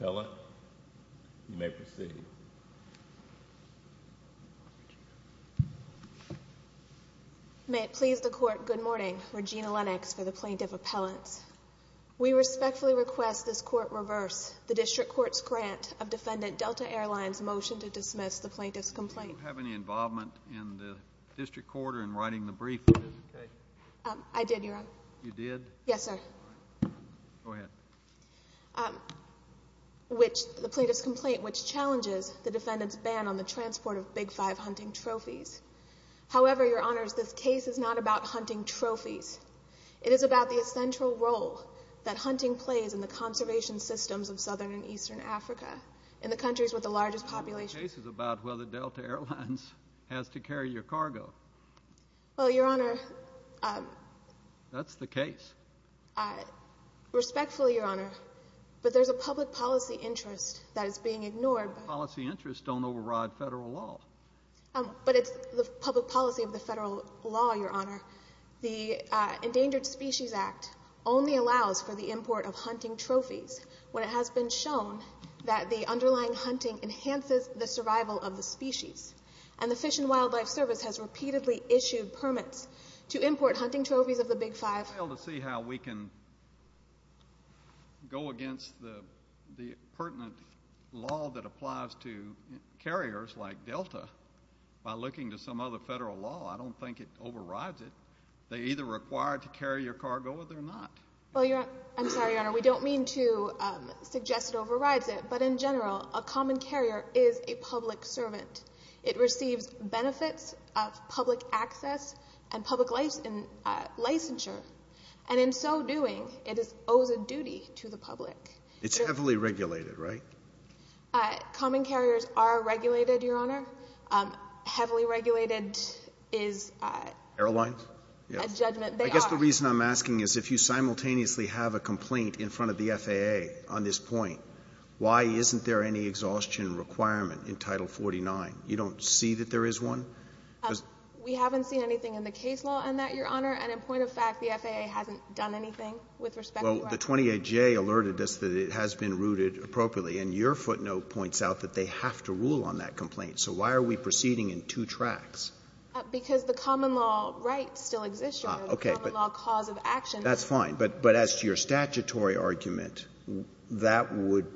Pellant, you may proceed. May it please the Court, good morning, Regina Lennox for the Plaintiff Appellants. We respectfully request this Court reverse the District Court's grant of Defendant Delta Air Lines' motion to dismiss the Plaintiff's complaint, which challenges the Defendant's ban on the transport of Big Five hunting trophies. However, Your Honors, this case is not about hunting trophies. It is about the essential role that hunting plays in the conservation systems of southern and eastern Africa, in the countries with the largest population… The case is about whether Delta Air Lines has to carry your cargo. Well, Your Honor… That's the case. Respectfully, Your Honor, but there's a public policy interest that is being ignored by… Public policy interests don't override federal law. But it's the public policy of the federal law, Your Honor. The Endangered Species Act only allows for the import of hunting trophies when it has been shown that the underlying hunting enhances the survival of the species. And the Fish and Wildlife Service has repeatedly issued permits to import hunting trophies of the Big Five. I fail to see how we can go against the pertinent law that applies to carriers like Delta by looking to some other federal law. I don't think it overrides it. They're either required to carry your cargo or they're not. I'm sorry, Your Honor, we don't mean to suggest it overrides it, but in general, a common carrier is a public servant. It receives benefits of public access and public licensure. And in so doing, it owes a duty to the public. It's heavily regulated, right? Common carriers are regulated, Your Honor. Heavily regulated is a judgment. They are. I guess the reason I'm asking is if you simultaneously have a complaint in front of the FAA on this point, why isn't there any exhaustion requirement in Title 49? You don't see that there is one? We haven't seen anything in the case law on that, Your Honor. And in point of fact, the FAA hasn't done anything with respect to that. Well, the 28J alerted us that it has been rooted appropriately. And your footnote points out that they have to rule on that complaint. So why are we proceeding in two tracks? Because the common law right still exists, Your Honor. Okay. The common law cause of action. That's fine. But as to your statutory argument, that would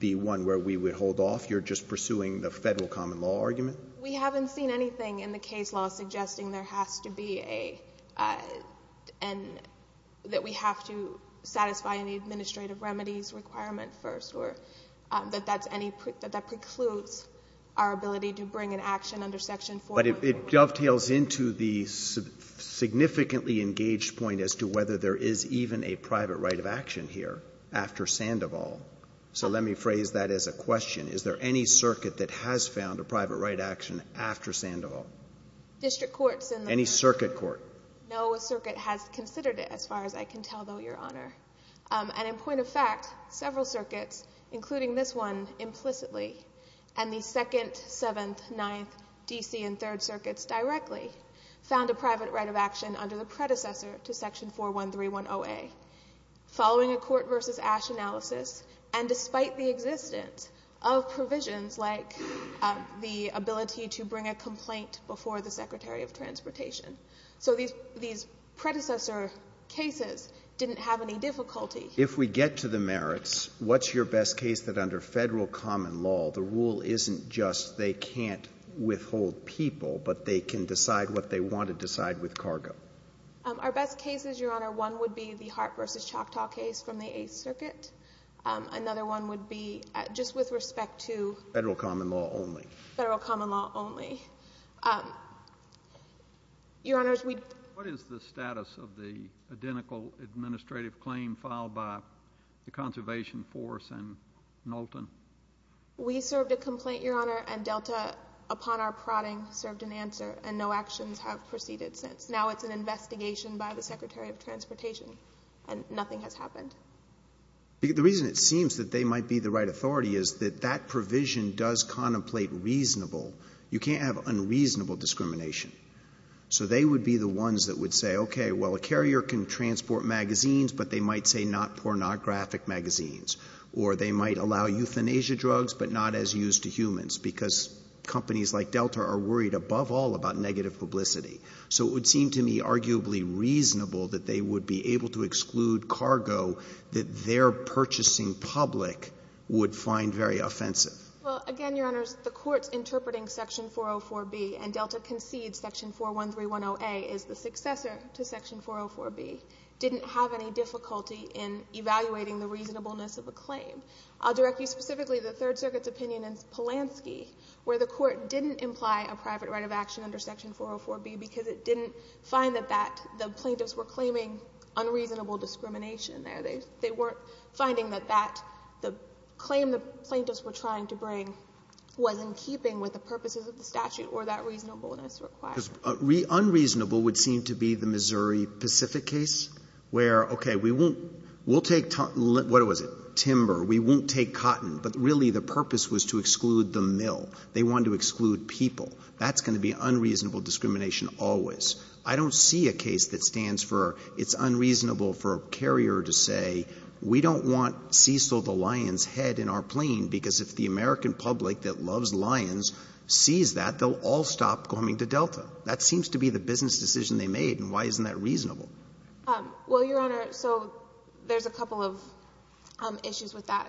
be one where we would hold off? You're just pursuing the Federal common law argument? We haven't seen anything in the case law suggesting there has to be a — that we have to satisfy any administrative remedies requirement first, or that that's any — that that precludes our ability to bring an action under Section 414. But it dovetails into the significantly engaged point as to whether there is even a private right of action here after Sandoval. So let me phrase that as a question. Is there any circuit that has found a private right action after Sandoval? District courts in the — Any circuit court. No circuit has considered it, as far as I can tell, though, Your Honor. And in point of fact, several circuits, including this one implicitly, and the 2nd, 7th, 9th, D.C., and 3rd circuits directly, found a private right of action under the predecessor to Section 41310A, following a court-versus-ash analysis, and despite the existence of provisions like the ability to bring a complaint before the Secretary of Transportation. So these predecessor cases didn't have any difficulty. If we get to the merits, what's your best case that under Federal common law, the rule isn't just they can't withhold people, but they can decide what they want to decide with cargo? Our best cases, Your Honor, one would be the Hart v. Choctaw case from the 8th Circuit. Another one would be just with respect to — Federal common law only. Federal common law only. Your Honors, we — What is the status of the identical administrative claim filed by the Conservation Force and Knowlton? We served a complaint, Your Honor, and Delta, upon our prodding, served an answer, and no actions have proceeded since. Now it's an investigation by the Secretary of Transportation, and nothing has happened. The reason it seems that they might be the right authority is that that provision does contemplate reasonable. You can't have unreasonable discrimination. So they would be the ones that would say, okay, well, a carrier can transport magazines, but they might say not pornographic magazines, or they might allow euthanasia drugs, but not as used to humans because companies like Delta are worried above all about negative publicity. So it would seem to me arguably reasonable that they would be able to exclude cargo that their purchasing public would find very offensive. Well, again, Your Honors, the Court's interpreting Section 404B and Delta concedes Section 41310A is the successor to Section 404B didn't have any difficulty in evaluating the reasonableness of a claim. I'll direct you specifically to the Third Circuit's opinion in Polanski where the Court didn't imply a private right of action under Section 404B because it didn't find that that — the plaintiffs were claiming unreasonable discrimination there. They weren't finding that that — the claim the plaintiffs were trying to bring was in keeping with the purposes of the statute or that reasonableness required. Unreasonable would seem to be the Missouri Pacific case where, okay, we won't — we'll take — what was it? Timber. We won't take cotton. But really the purpose was to exclude the mill. They wanted to exclude people. That's going to be unreasonable discrimination always. I don't see a case that stands for it's unreasonable for a carrier to say we don't want Cecil the lion's head in our plane because if the American public that loves lions sees that, they'll all stop coming to Delta. That seems to be the business decision they made, and why isn't that reasonable? Well, Your Honor, so there's a couple of issues with that.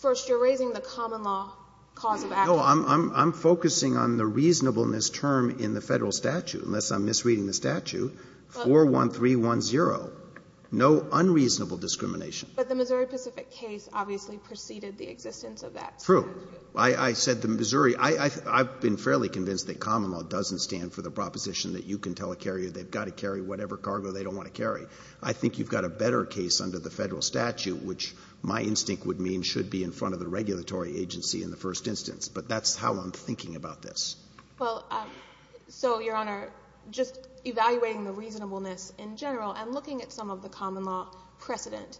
First, you're raising the common law cause of action. No, I'm focusing on the reasonableness term in the Federal statute, unless I'm misreading the statute. 41310, no unreasonable discrimination. But the Missouri Pacific case obviously preceded the existence of that statute. True. I said the Missouri — I've been fairly convinced that common law doesn't stand for the proposition that you can tell a carrier they've got to carry whatever cargo they don't want to carry. I think you've got a better case under the Federal statute, which my instinct would mean should be in front of the regulatory agency in the first instance. But that's how I'm thinking about this. Well, so, Your Honor, just evaluating the reasonableness in general and looking at some of the common law precedent.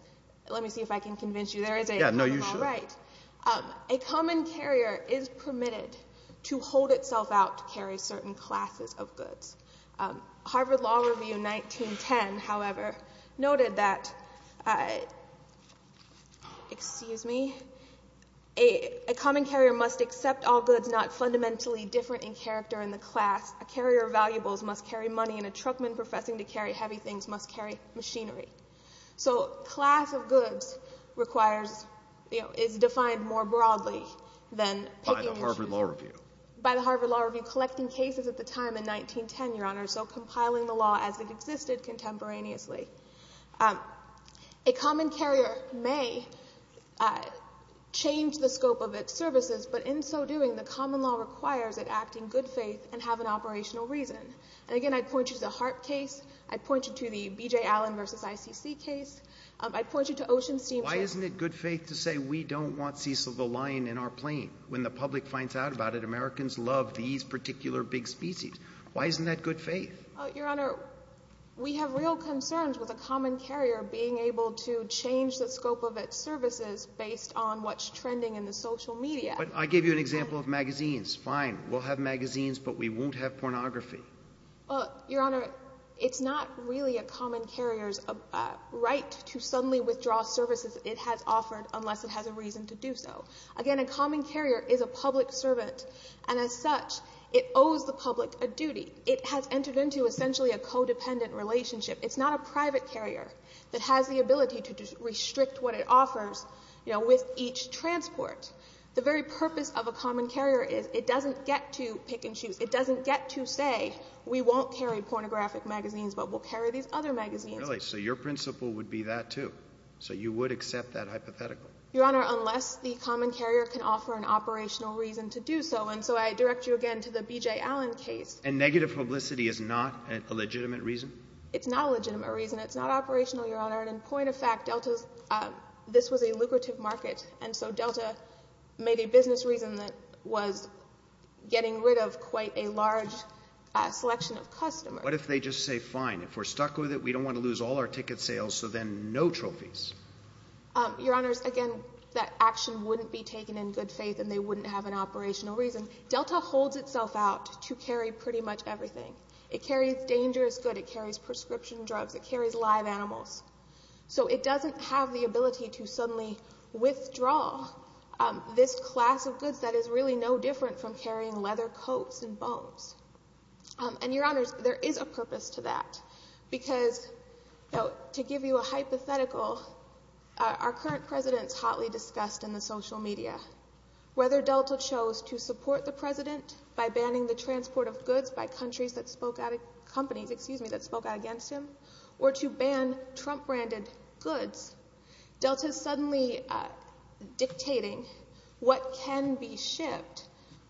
Let me see if I can convince you there is a common law right. Yeah, no, you should. A common carrier is permitted to hold itself out to carry certain classes of goods. Harvard Law Review 1910, however, noted that — excuse me — a common carrier must accept all goods not fundamentally different in character in the class. A carrier of valuables must carry money, and a truckman professing to carry heavy things must carry machinery. So class of goods requires — is defined more broadly than — By the Harvard Law Review. By the Harvard Law Review, collecting cases at the time in 1910, Your Honor, so compiling the law as it existed contemporaneously. A common carrier may change the scope of its services, but in so doing, the common law requires it acting good faith and have an operational reason. And again, I'd point you to the Harp case. I'd point you to the B.J. Allen v. ICC case. I'd point you to Ocean Steamship — Why isn't it good faith to say we don't want Cecil the Lion in our plane when the Americans love these particular big species? Why isn't that good faith? Your Honor, we have real concerns with a common carrier being able to change the scope of its services based on what's trending in the social media. But I gave you an example of magazines. Fine. We'll have magazines, but we won't have pornography. Well, Your Honor, it's not really a common carrier's right to suddenly withdraw services it has offered unless it has a reason to do so. Again, a common carrier is a public servant, and as such, it owes the public a duty. It has entered into essentially a codependent relationship. It's not a private carrier that has the ability to restrict what it offers with each transport. The very purpose of a common carrier is it doesn't get to pick and choose. It doesn't get to say we won't carry pornographic magazines, but we'll carry these other magazines. Really? So your principle would be that, too? So you would accept that hypothetical? Your Honor, unless the common carrier can offer an operational reason to do so. And so I direct you again to the B.J. Allen case. And negative publicity is not a legitimate reason? It's not a legitimate reason. It's not operational, Your Honor. And point of fact, this was a lucrative market, and so Delta made a business reason that was getting rid of quite a large selection of customers. What if they just say, fine, if we're stuck with it, we don't want to lose all our ticket sales, so then no trophies? Your Honors, again, that action wouldn't be taken in good faith, and they wouldn't have an operational reason. Delta holds itself out to carry pretty much everything. It carries dangerous goods. It carries prescription drugs. It carries live animals. So it doesn't have the ability to suddenly withdraw this class of goods that is really no different from carrying leather coats and bones. And, Your Honors, there is a purpose to that. Because, you know, to give you a hypothetical, our current president is hotly discussed in the social media. Whether Delta chose to support the president by banning the transport of goods by companies that spoke out against him or to ban Trump-branded goods, Delta is suddenly dictating what can be shipped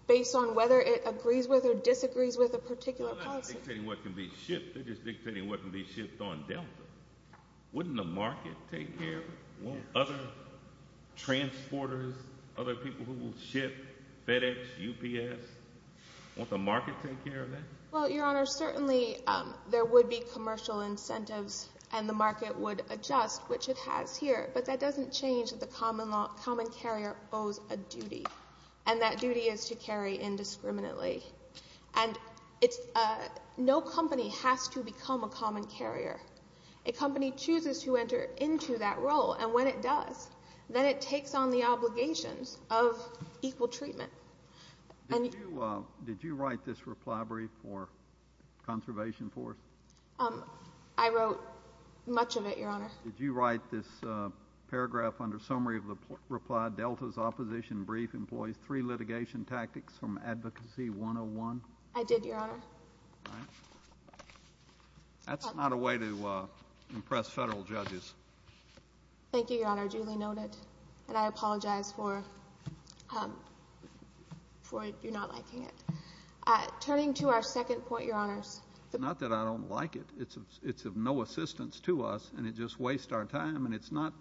based on whether it agrees with or disagrees with a particular policy. They're not dictating what can be shipped. They're just dictating what can be shipped on Delta. Wouldn't the market take care of it? Won't other transporters, other people who will ship FedEx, UPS, won't the market take care of that? Well, Your Honors, certainly there would be commercial incentives, and the market would adjust, which it has here. But that doesn't change that the common carrier owes a duty, and that duty is to carry indiscriminately. And no company has to become a common carrier. A company chooses to enter into that role, and when it does, then it takes on the obligations of equal treatment. Did you write this reply brief for Conservation Force? I wrote much of it, Your Honor. Did you write this paragraph under summary of the reply, Delta's opposition brief employs three litigation tactics from Advocacy 101? I did, Your Honor. That's not a way to impress federal judges. Thank you, Your Honor, duly noted. And I apologize for your not liking it. Turning to our second point, Your Honors. Not that I don't like it. It's of no assistance to us, and it just wastes our time, and it's not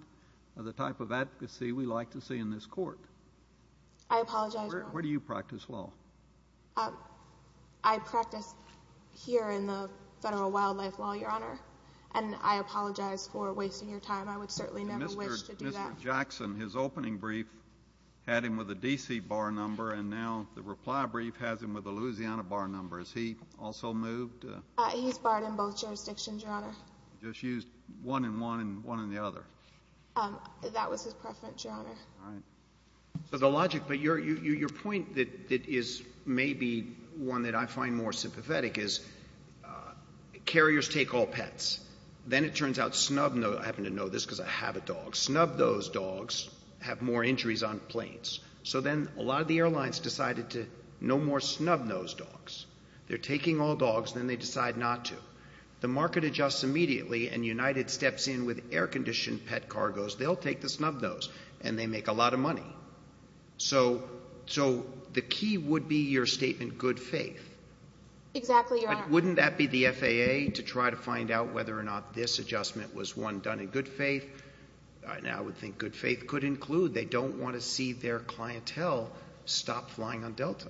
the type of advocacy we like to see in this court. I apologize, Your Honor. Where do you practice law? I practice here in the federal wildlife law, Your Honor, and I apologize for wasting your time. I would certainly never wish to do that. Mr. Jackson, his opening brief had him with a D.C. bar number, and now the reply brief has him with a Louisiana bar number. Has he also moved? He's barred in both jurisdictions, Your Honor. Just used one and one and one and the other. That was his preference, Your Honor. All right. So the logic, but your point that is maybe one that I find more sympathetic is, carriers take all pets. Then it turns out snub, I happen to know this because I have a dog, snub those dogs have more injuries on planes. So then a lot of the airlines decided to no more snub those dogs. They're taking all dogs, then they decide not to. The market adjusts immediately, and United steps in with air-conditioned pet cargos. They'll take the snub those, and they make a lot of money. So the key would be your statement, good faith. Exactly, Your Honor. Wouldn't that be the FAA to try to find out whether or not this adjustment was one done in good faith? I would think good faith could include they don't want to see their clientele stop flying on Delta.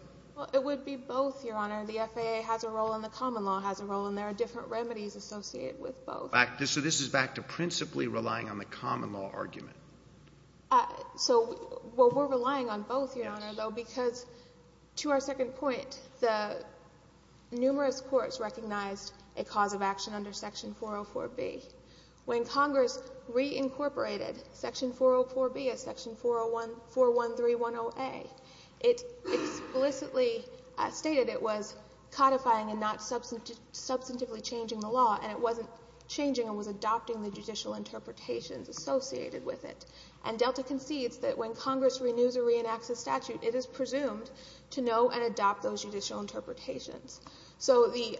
It would be both, Your Honor. The FAA has a role, and the common law has a role, and there are different remedies associated with both. So this is back to principally relying on the common law argument. So we're relying on both, Your Honor, though, because to our second point, the numerous courts recognized a cause of action under Section 404B. When Congress reincorporated Section 404B as Section 41310A, it explicitly stated it was codifying and not substantively changing the law, and it wasn't changing. It was adopting the judicial interpretations associated with it. And Delta concedes that when Congress renews or reenacts a statute, it is presumed to know and adopt those judicial interpretations. So the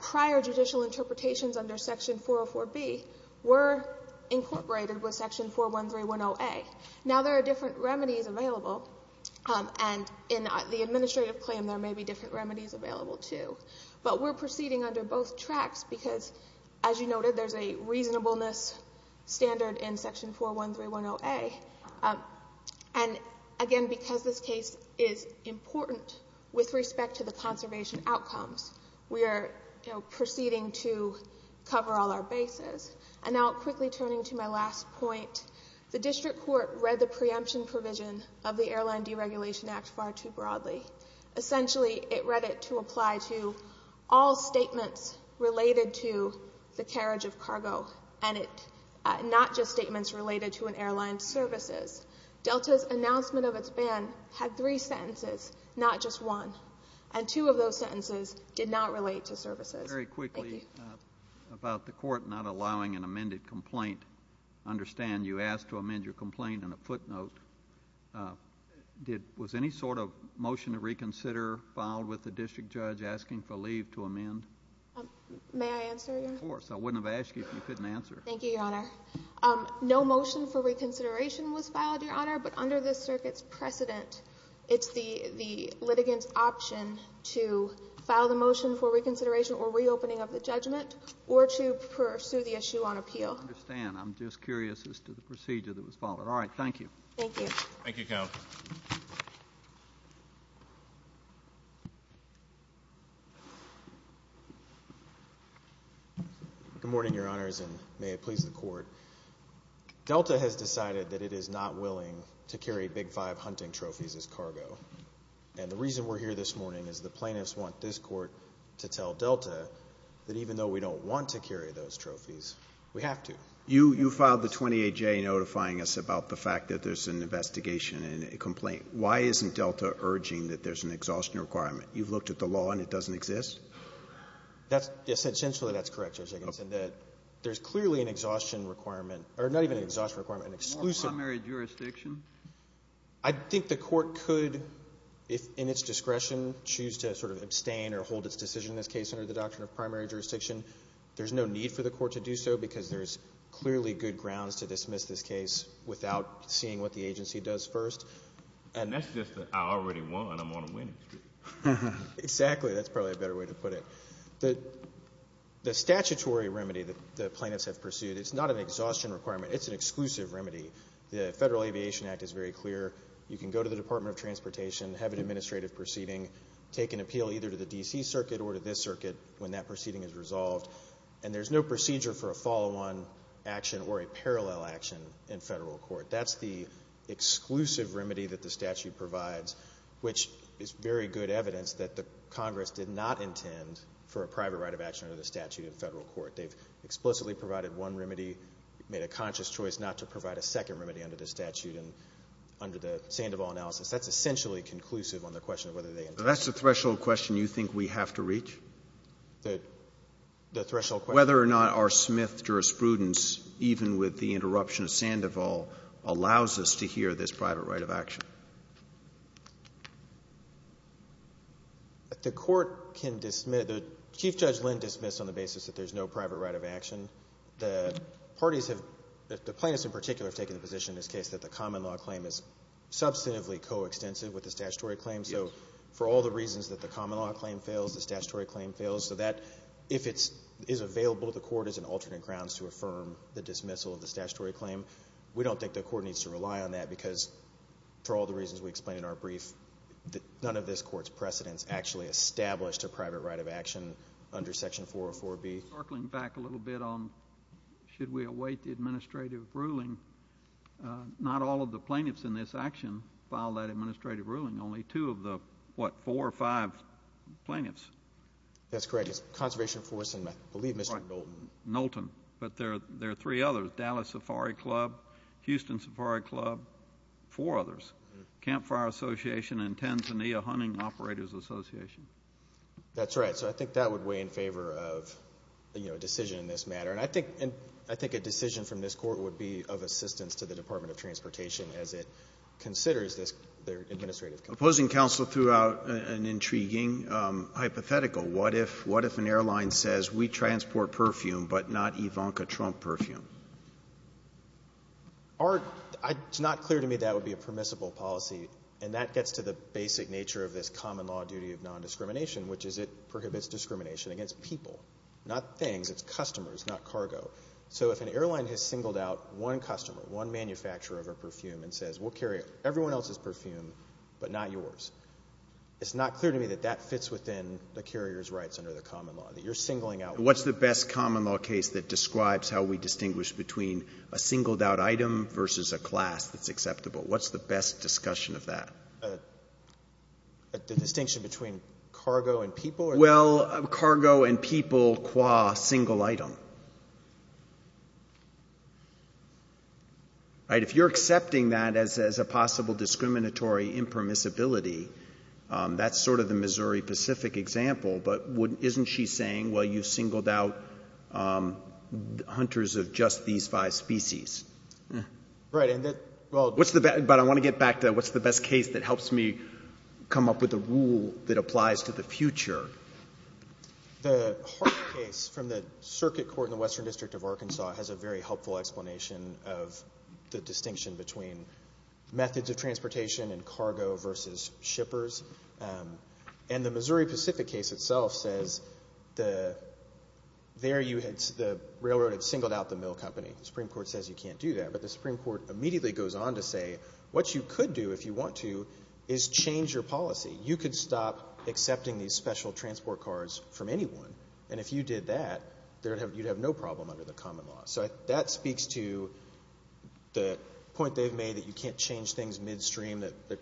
prior judicial interpretations under Section 404B were incorporated with Section 41310A. Now, there are different remedies available, and in the administrative claim, there may be different remedies available, too. But we're proceeding under both tracks because, as you noted, there's a reasonableness standard in Section 41310A. And, again, because this case is important with respect to the conservation outcomes, we are proceeding to cover all our bases. And now, quickly turning to my last point, the district court read the preemption provision of the Airline Deregulation Act far too broadly. Essentially, it read it to apply to all statements related to the carriage of cargo, and not just statements related to an airline's services. Delta's announcement of its ban had three sentences, not just one. And two of those sentences did not relate to services. Very quickly about the court not allowing an amended complaint. I understand you asked to amend your complaint in a footnote. Was any sort of motion to reconsider filed with the district judge asking for leave to amend? May I answer, Your Honor? Of course. I wouldn't have asked you if you couldn't answer. Thank you, Your Honor. No motion for reconsideration was filed, Your Honor. But under this circuit's precedent, it's the litigant's option to file the motion for reconsideration or reopening of the judgment or to pursue the issue on appeal. I understand. I'm just curious as to the procedure that was followed. All right. Thank you. Thank you. Thank you, Counsel. Good morning, Your Honors, and may it please the Court. Delta has decided that it is not willing to carry Big Five hunting trophies as cargo. And the reason we're here this morning is the plaintiffs want this Court to tell Delta that even though we don't want to carry those trophies, we have to. You filed the 28-J notifying us about the fact that there's an investigation and a complaint. Why isn't Delta urging that there's an exhaustion requirement? You've looked at the law and it doesn't exist? Essentially, that's correct, Judge Higginson. There's clearly an exhaustion requirement, or not even an exhaustion requirement, an exclusive. Primary jurisdiction? I think the Court could, if in its discretion, choose to sort of abstain or hold its decision in this case under the doctrine of primary jurisdiction. There's no need for the Court to do so because there's clearly good grounds to dismiss this case without seeing what the agency does first. That's just that I already won. I'm on a winning streak. Exactly. That's probably a better way to put it. The statutory remedy that the plaintiffs have pursued is not an exhaustion requirement. It's an exclusive remedy. The Federal Aviation Act is very clear. You can go to the Department of Transportation, have an administrative proceeding, take an appeal either to the D.C. Circuit or to this circuit when that proceeding is resolved, and there's no procedure for a follow-on action or a parallel action in federal court. That's the exclusive remedy that the statute provides, which is very good evidence that the Congress did not intend for a private right of action under the statute in federal court. They've explicitly provided one remedy, made a conscious choice not to provide a second remedy under the statute and under the Sandoval analysis. That's essentially conclusive on the question of whether they intend to. That's the threshold question you think we have to reach? The threshold question? Whether or not our Smith jurisprudence, even with the interruption of Sandoval, allows us to hear this private right of action. The court can dismiss. Chief Judge Lind dismissed on the basis that there's no private right of action. The parties have, the plaintiffs in particular, have taken the position in this case that the common law claim is substantively coextensive with the statutory claim. So for all the reasons that the common law claim fails, the statutory claim fails, so that if it is available to the court as an alternate grounds to affirm the dismissal of the statutory claim, we don't think the court needs to rely on that because, for all the reasons we explained in our brief, none of this court's precedents actually established a private right of action under Section 404B. Circling back a little bit on should we await the administrative ruling, not all of the plaintiffs in this action filed that administrative ruling, only two of the, what, four or five plaintiffs. That's correct. Conservation Force and I believe Mr. Knowlton. Knowlton. But there are three others, Dallas Safari Club, Houston Safari Club, four others, Campfire Association and Tanzania Hunting Operators Association. That's right. So I think that would weigh in favor of, you know, a decision in this matter. And I think a decision from this court would be of assistance to the Department of Transportation as it considers their administrative claim. Opposing counsel threw out an intriguing hypothetical. What if an airline says we transport perfume but not Ivanka Trump perfume? It's not clear to me that would be a permissible policy, and that gets to the basic nature of this common law duty of nondiscrimination, which is it prohibits discrimination against people, not things. It's customers, not cargo. So if an airline has singled out one customer, one manufacturer of a perfume, and says we'll carry everyone else's perfume but not yours, it's not clear to me that that fits within the carrier's rights under the common law, that you're singling out one. What's the best common law case that describes how we distinguish between a singled out item versus a class that's acceptable? What's the best discussion of that? The distinction between cargo and people? Well, cargo and people qua single item. If you're accepting that as a possible discriminatory impermissibility, that's sort of the Missouri Pacific example, but isn't she saying, well, you singled out hunters of just these five species? Right. But I want to get back to what's the best case that helps me come up with a rule that applies to the future. The Hart case from the Circuit Court in the Western District of Arkansas has a very helpful explanation of the distinction between methods of transportation and cargo versus shippers. And the Missouri Pacific case itself says the railroad had singled out the mill company. The Supreme Court says you can't do that. But the Supreme Court immediately goes on to say what you could do if you want to is change your policy. You could stop accepting these special transport cards from anyone. And if you did that, you'd have no problem under the common law. So that speaks to the point they've made that you can't change things midstream. The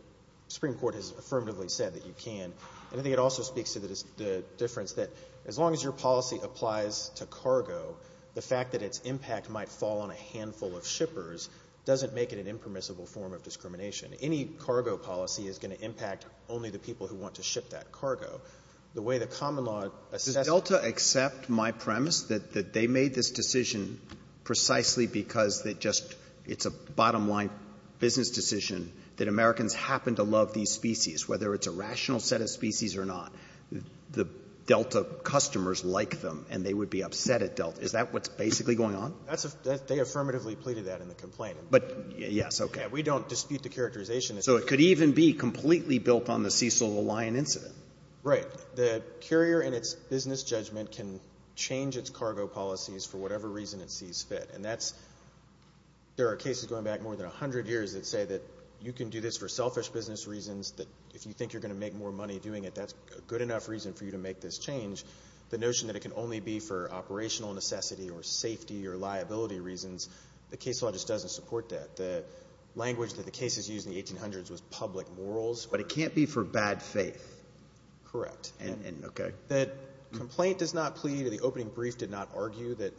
Supreme Court has affirmatively said that you can. And I think it also speaks to the difference that as long as your policy applies to cargo, the fact that its impact might fall on a handful of shippers doesn't make it an impermissible form of discrimination. Any cargo policy is going to impact only the people who want to ship that cargo. The way the common law assesses it — Roberts. Does Delta accept my premise that they made this decision precisely because it just — it's a bottom-line business decision that Americans happen to love these species, whether it's a rational set of species or not. The Delta customers like them, and they would be upset at Delta. Is that what's basically going on? That's a — they affirmatively pleaded that in the complaint. But — yes. Okay. We don't dispute the characterization. So it could even be completely built on the Cecil the Lion incident. Right. The carrier in its business judgment can change its cargo policies for whatever reason it sees fit. And that's — there are cases going back more than 100 years that say that you can do this for selfish business reasons, that if you think you're going to make more money doing it, that's a good enough reason for you to make this change. The notion that it can only be for operational necessity or safety or liability reasons, the case law just doesn't support that. The language that the cases used in the 1800s was public morals. But it can't be for bad faith. Correct. Okay. The complaint does not plead, or the opening brief did not argue, that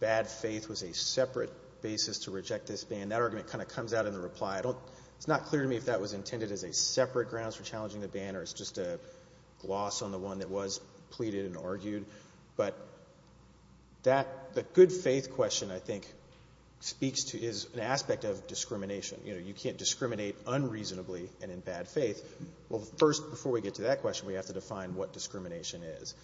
bad faith was a separate basis to reject this ban. That argument kind of comes out in the reply. It's not clear to me if that was intended as a separate grounds for challenging the ban or it's just a gloss on the one that was pleaded and argued. But that — the good faith question, I think, speaks to — is an aspect of discrimination. You know, you can't discriminate unreasonably and in bad faith. Well, first, before we get to that question, we have to define what discrimination is.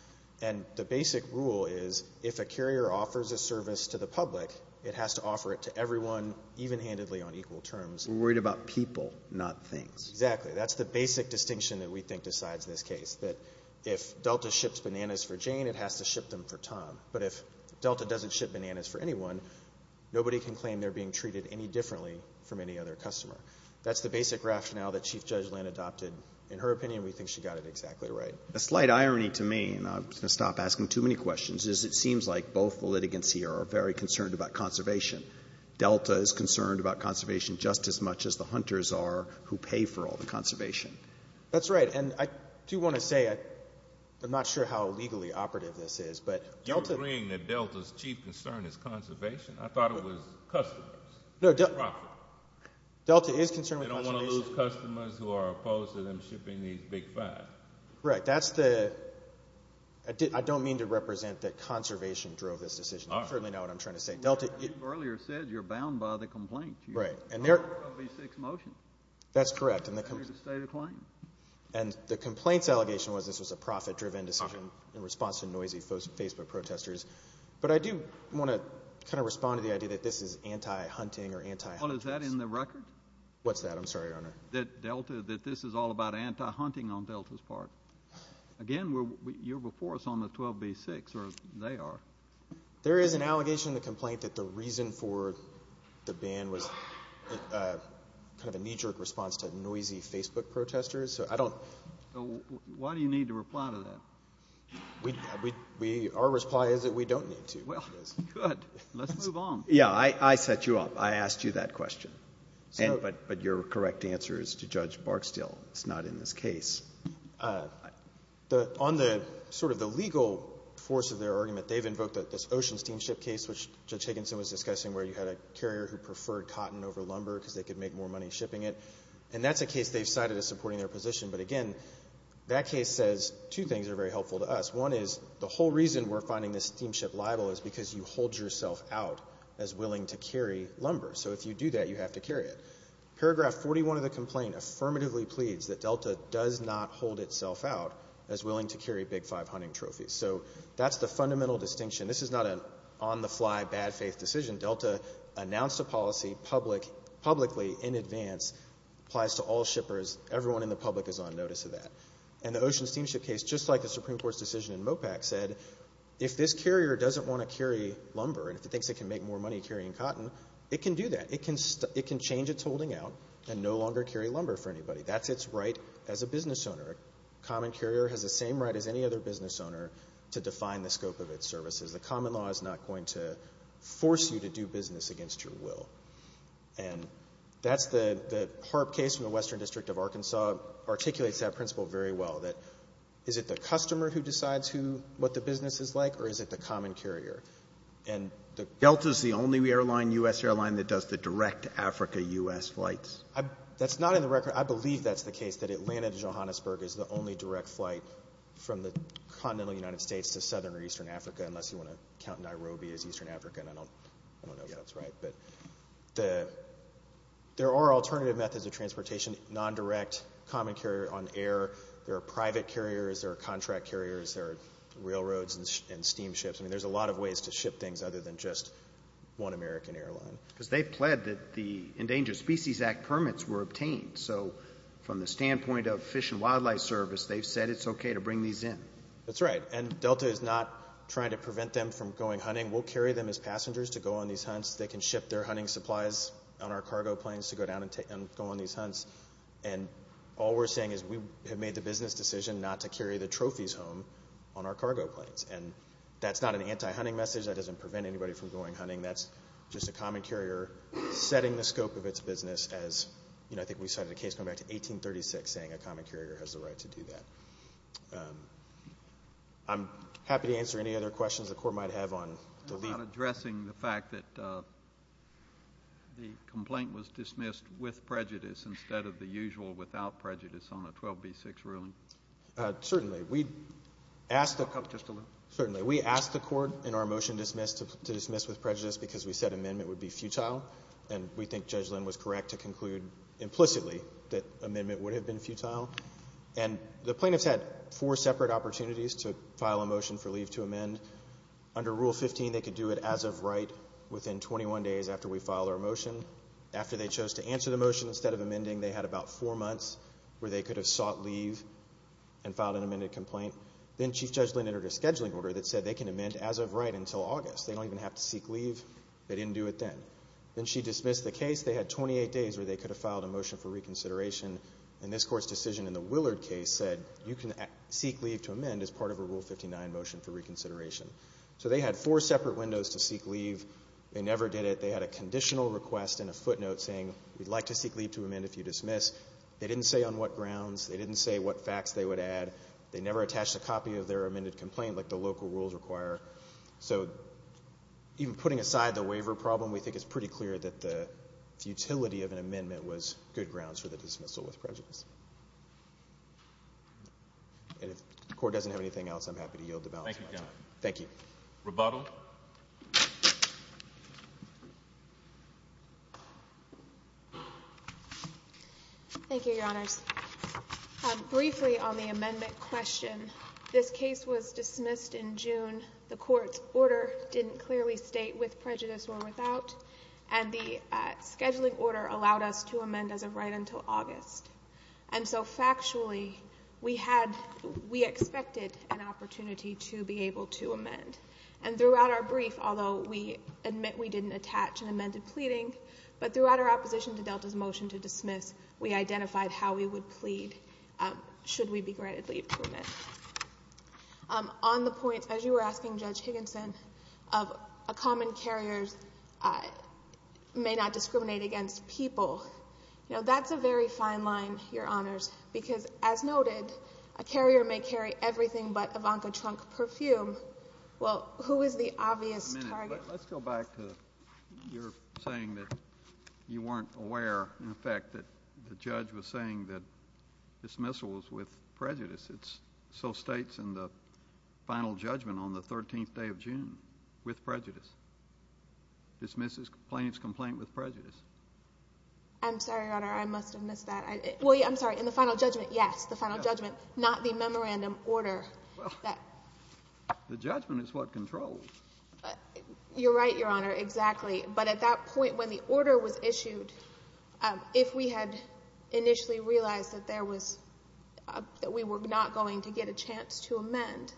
And the basic rule is if a carrier offers a service to the public, it has to offer it to everyone even-handedly on equal terms. We're worried about people, not things. Exactly. That's the basic distinction that we think decides this case, that if Delta ships bananas for Jane, it has to ship them for Tom. But if Delta doesn't ship bananas for anyone, nobody can claim they're being treated any differently from any other customer. That's the basic rationale that Chief Judge Land adopted. In her opinion, we think she got it exactly right. The slight irony to me, and I'm going to stop asking too many questions, is it seems like both the litigants here are very concerned about conservation. Delta is concerned about conservation just as much as the hunters are who pay for all the conservation. That's right. And I do want to say, I'm not sure how legally operative this is, but Delta— You're agreeing that Delta's chief concern is conservation? I thought it was customers. No, Delta— Property. Delta is concerned with conservation. They don't want to lose customers who are opposed to them shipping these big five. Right. That's the—I don't mean to represent that conservation drove this decision. All right. You certainly know what I'm trying to say. Delta— Well, you've earlier said you're bound by the complaint. Right. And there— There ought to be six motions. That's correct. And the complaint's allegation was this was a profit-driven decision in response to noisy Facebook protesters. But I do want to kind of respond to the idea that this is anti-hunting or anti-hunters. Well, is that in the record? What's that? I'm sorry, Your Honor. That Delta—that this is all about anti-hunting on Delta's part. Again, you're before us on the 12B6, or they are. There is an allegation in the complaint that the reason for the ban was kind of a knee-jerk response to noisy Facebook protesters. So I don't— Why do you need to reply to that? We—our reply is that we don't need to. Well, good. Let's move on. Yeah. I set you up. I asked you that question. So— But your correct answer is to Judge Barksdale. It's not in this case. On the sort of the legal force of their argument, they've invoked this Ocean Steamship case, which Judge Higginson was discussing, where you had a carrier who preferred And that's a case they've cited as supporting their position. But again, that case says two things that are very helpful to us. One is the whole reason we're finding this steamship liable is because you hold yourself out as willing to carry lumber. So if you do that, you have to carry it. Paragraph 41 of the complaint affirmatively pleads that Delta does not hold itself out as willing to carry Big Five hunting trophies. So that's the fundamental distinction. This is not an on-the-fly, bad-faith decision. Delta announced a policy publicly in advance, applies to all shippers. Everyone in the public is on notice of that. And the Ocean Steamship case, just like the Supreme Court's decision in MOPAC, said, if this carrier doesn't want to carry lumber and if it thinks it can make more money carrying cotton, it can do that. It can change its holding out and no longer carry lumber for anybody. That's its right as a business owner. A common carrier has the same right as any other business owner to define the scope of its services. The common law is not going to force you to do business against your will. And that's the HAARP case from the Western District of Arkansas articulates that principle very well, that is it the customer who decides what the business is like or is it the common carrier? Delta is the only airline, U.S. airline, that does the direct Africa-U.S. flights? That's not in the record. I believe that's the case, that Atlanta to Johannesburg is the only direct flight from the continental United States to southern or eastern Africa, unless you want to count Nairobi as eastern Africa. I don't know if that's right. But there are alternative methods of transportation, non-direct, common carrier on air. There are private carriers. There are contract carriers. There are railroads and steamships. I mean, there's a lot of ways to ship things other than just one American airline. Because they pled that the Endangered Species Act permits were obtained. So from the standpoint of Fish and Wildlife Service, they've said it's okay to bring these in. That's right. And Delta is not trying to prevent them from going hunting. We'll carry them as passengers to go on these hunts. They can ship their hunting supplies on our cargo planes to go down and go on these hunts. And all we're saying is we have made the business decision not to carry the trophies home on our cargo planes. And that's not an anti-hunting message. That doesn't prevent anybody from going hunting. That's just a common carrier setting the scope of its business as, you know, I think we cited a case going back to 1836 saying a common carrier has the right to do that. I'm happy to answer any other questions the Court might have on the leave. How about addressing the fact that the complaint was dismissed with prejudice instead of the usual without prejudice on a 12b6 ruling? Certainly. We asked the Court in our motion to dismiss with prejudice. Because we said amendment would be futile. And we think Judge Lynn was correct to conclude implicitly that amendment would have been futile. And the plaintiffs had four separate opportunities to file a motion for leave to amend. Under Rule 15, they could do it as of right within 21 days after we filed our motion. After they chose to answer the motion instead of amending, they had about four months where they could have sought leave and filed an amended complaint. Then Chief Judge Lynn entered a scheduling order that said they can amend as of right until August. They don't even have to seek leave. They didn't do it then. Then she dismissed the case. They had 28 days where they could have filed a motion for reconsideration. And this Court's decision in the Willard case said you can seek leave to amend as part of a Rule 59 motion for reconsideration. So they had four separate windows to seek leave. They never did it. They had a conditional request and a footnote saying we'd like to seek leave to amend if you dismiss. They didn't say on what grounds. They didn't say what facts they would add. They never attached a copy of their amended complaint like the local rules require. So even putting aside the waiver problem, we think it's pretty clear that the utility of an amendment was good grounds for the dismissal with prejudice. And if the Court doesn't have anything else, I'm happy to yield the balance of my time. Thank you, Your Honor. Thank you. Rebuttal. Thank you, Your Honors. Briefly on the amendment question, this case was dismissed in June. The Court's order didn't clearly state with prejudice or without. And the scheduling order allowed us to amend as of right until August. And so factually, we expected an opportunity to be able to amend. And throughout our brief, although we admit we didn't attach an amended pleading, but we identified how we would plead should we be granted leave to amend. On the point, as you were asking, Judge Higginson, of a common carrier may not discriminate against people. You know, that's a very fine line, Your Honors, because as noted, a carrier may carry everything but Ivanka Trump perfume. Well, who is the obvious target? Let's go back to your saying that you weren't aware, in effect, that the judge was saying that dismissal was with prejudice. It so states in the final judgment on the 13th day of June, with prejudice. Dismisses plaintiff's complaint with prejudice. I'm sorry, Your Honor. I must have missed that. Well, I'm sorry. In the final judgment, yes. The final judgment, not the memorandum order. The judgment is what controls. You're right, Your Honor. Exactly. But at that point when the order was issued, if we had initially realized that there was, that we were not going to get a chance to amend,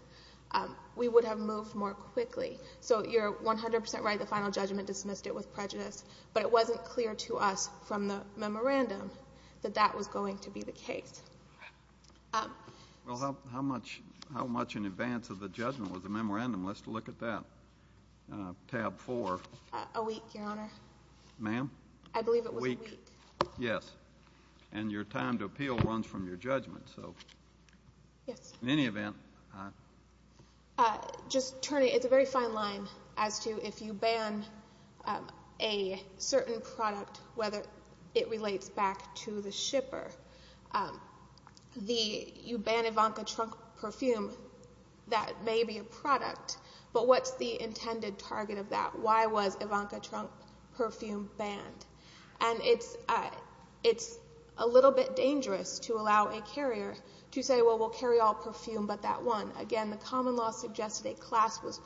we would have moved more quickly. So you're 100 percent right, the final judgment dismissed it with prejudice. But it wasn't clear to us from the memorandum that that was going to be the case. Well, how much in advance of the judgment was the memorandum? Let's look at that. Tab 4. A week, Your Honor. Ma'am? I believe it was a week. Yes. And your time to appeal runs from your judgment. Yes. In any event. Just turning, it's a very fine line as to if you ban a certain product, whether it relates back to the shipper. You ban Ivanka Trump perfume, that may be a product, but what's the intended target of that? Why was Ivanka Trump perfume banned? And it's a little bit dangerous to allow a carrier to say, well, we'll carry all perfume but that one. Again, the common law suggested a class was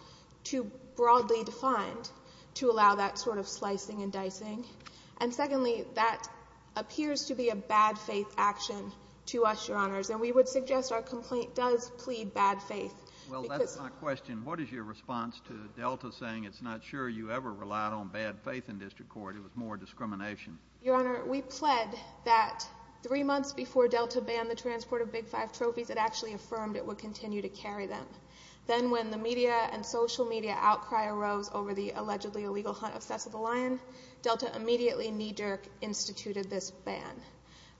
too broadly defined to allow that sort of slicing and dicing. And secondly, that appears to be a bad faith action to us, Your Honors. And we would suggest our complaint does plead bad faith. Well, that's my question. What is your response to Delta saying it's not sure you ever relied on bad faith in district court? It was more discrimination. Your Honor, we pled that three months before Delta banned the transport of Big Five trophies, it actually affirmed it would continue to carry them. Then when the media and social media outcry arose over the allegedly illegal hunt of Cess of the Lion, Delta immediately knee-jerk instituted this ban.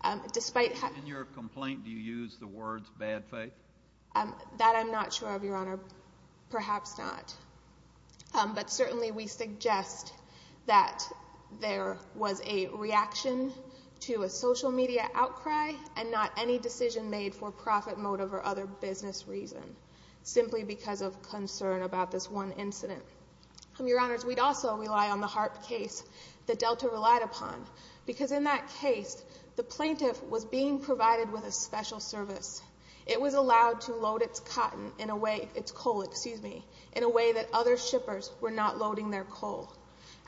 In your complaint, do you use the words bad faith? That I'm not sure of, Your Honor. Perhaps not. But certainly we suggest that there was a reaction to a social media outcry and not any decision made for profit motive or other business reason, simply because of concern about this one incident. Your Honors, we'd also rely on the HAARP case that Delta relied upon, because in that case, the plaintiff was being provided with a special service. It was allowed to load its cotton in a way, its coal, excuse me, in a way that other shippers were not loading their coal.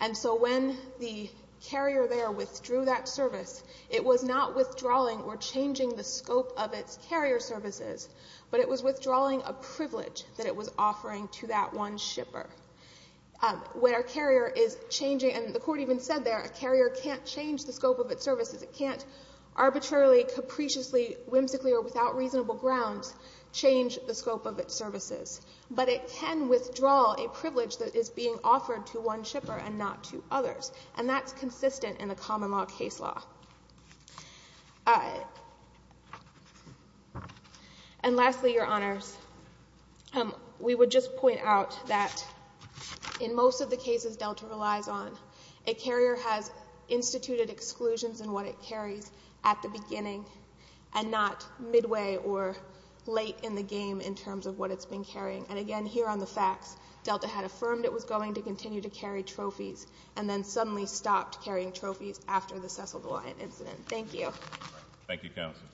And so when the carrier there withdrew that service, it was not withdrawing or changing the scope of its carrier services, but it was withdrawing a privilege that it was offering to that one shipper. When a carrier is changing, and the court even said there, a carrier can't change the scope of its services. It can't arbitrarily, capriciously, whimsically, or without reasonable grounds change the scope of its services. But it can withdraw a privilege that is being offered to one shipper and not to others. And that's consistent in the common law case law. And lastly, Your Honors, we would just point out that in most of the cases Delta relies on, a carrier has instituted exclusions in what it carries at the beginning and not midway or late in the game in terms of what it's been carrying. And again, here on the facts, Delta had affirmed it was going to continue to carry trophies and then suddenly stopped carrying trophies after the Cecil DeWine incident. Thank you. Thank you, counsel.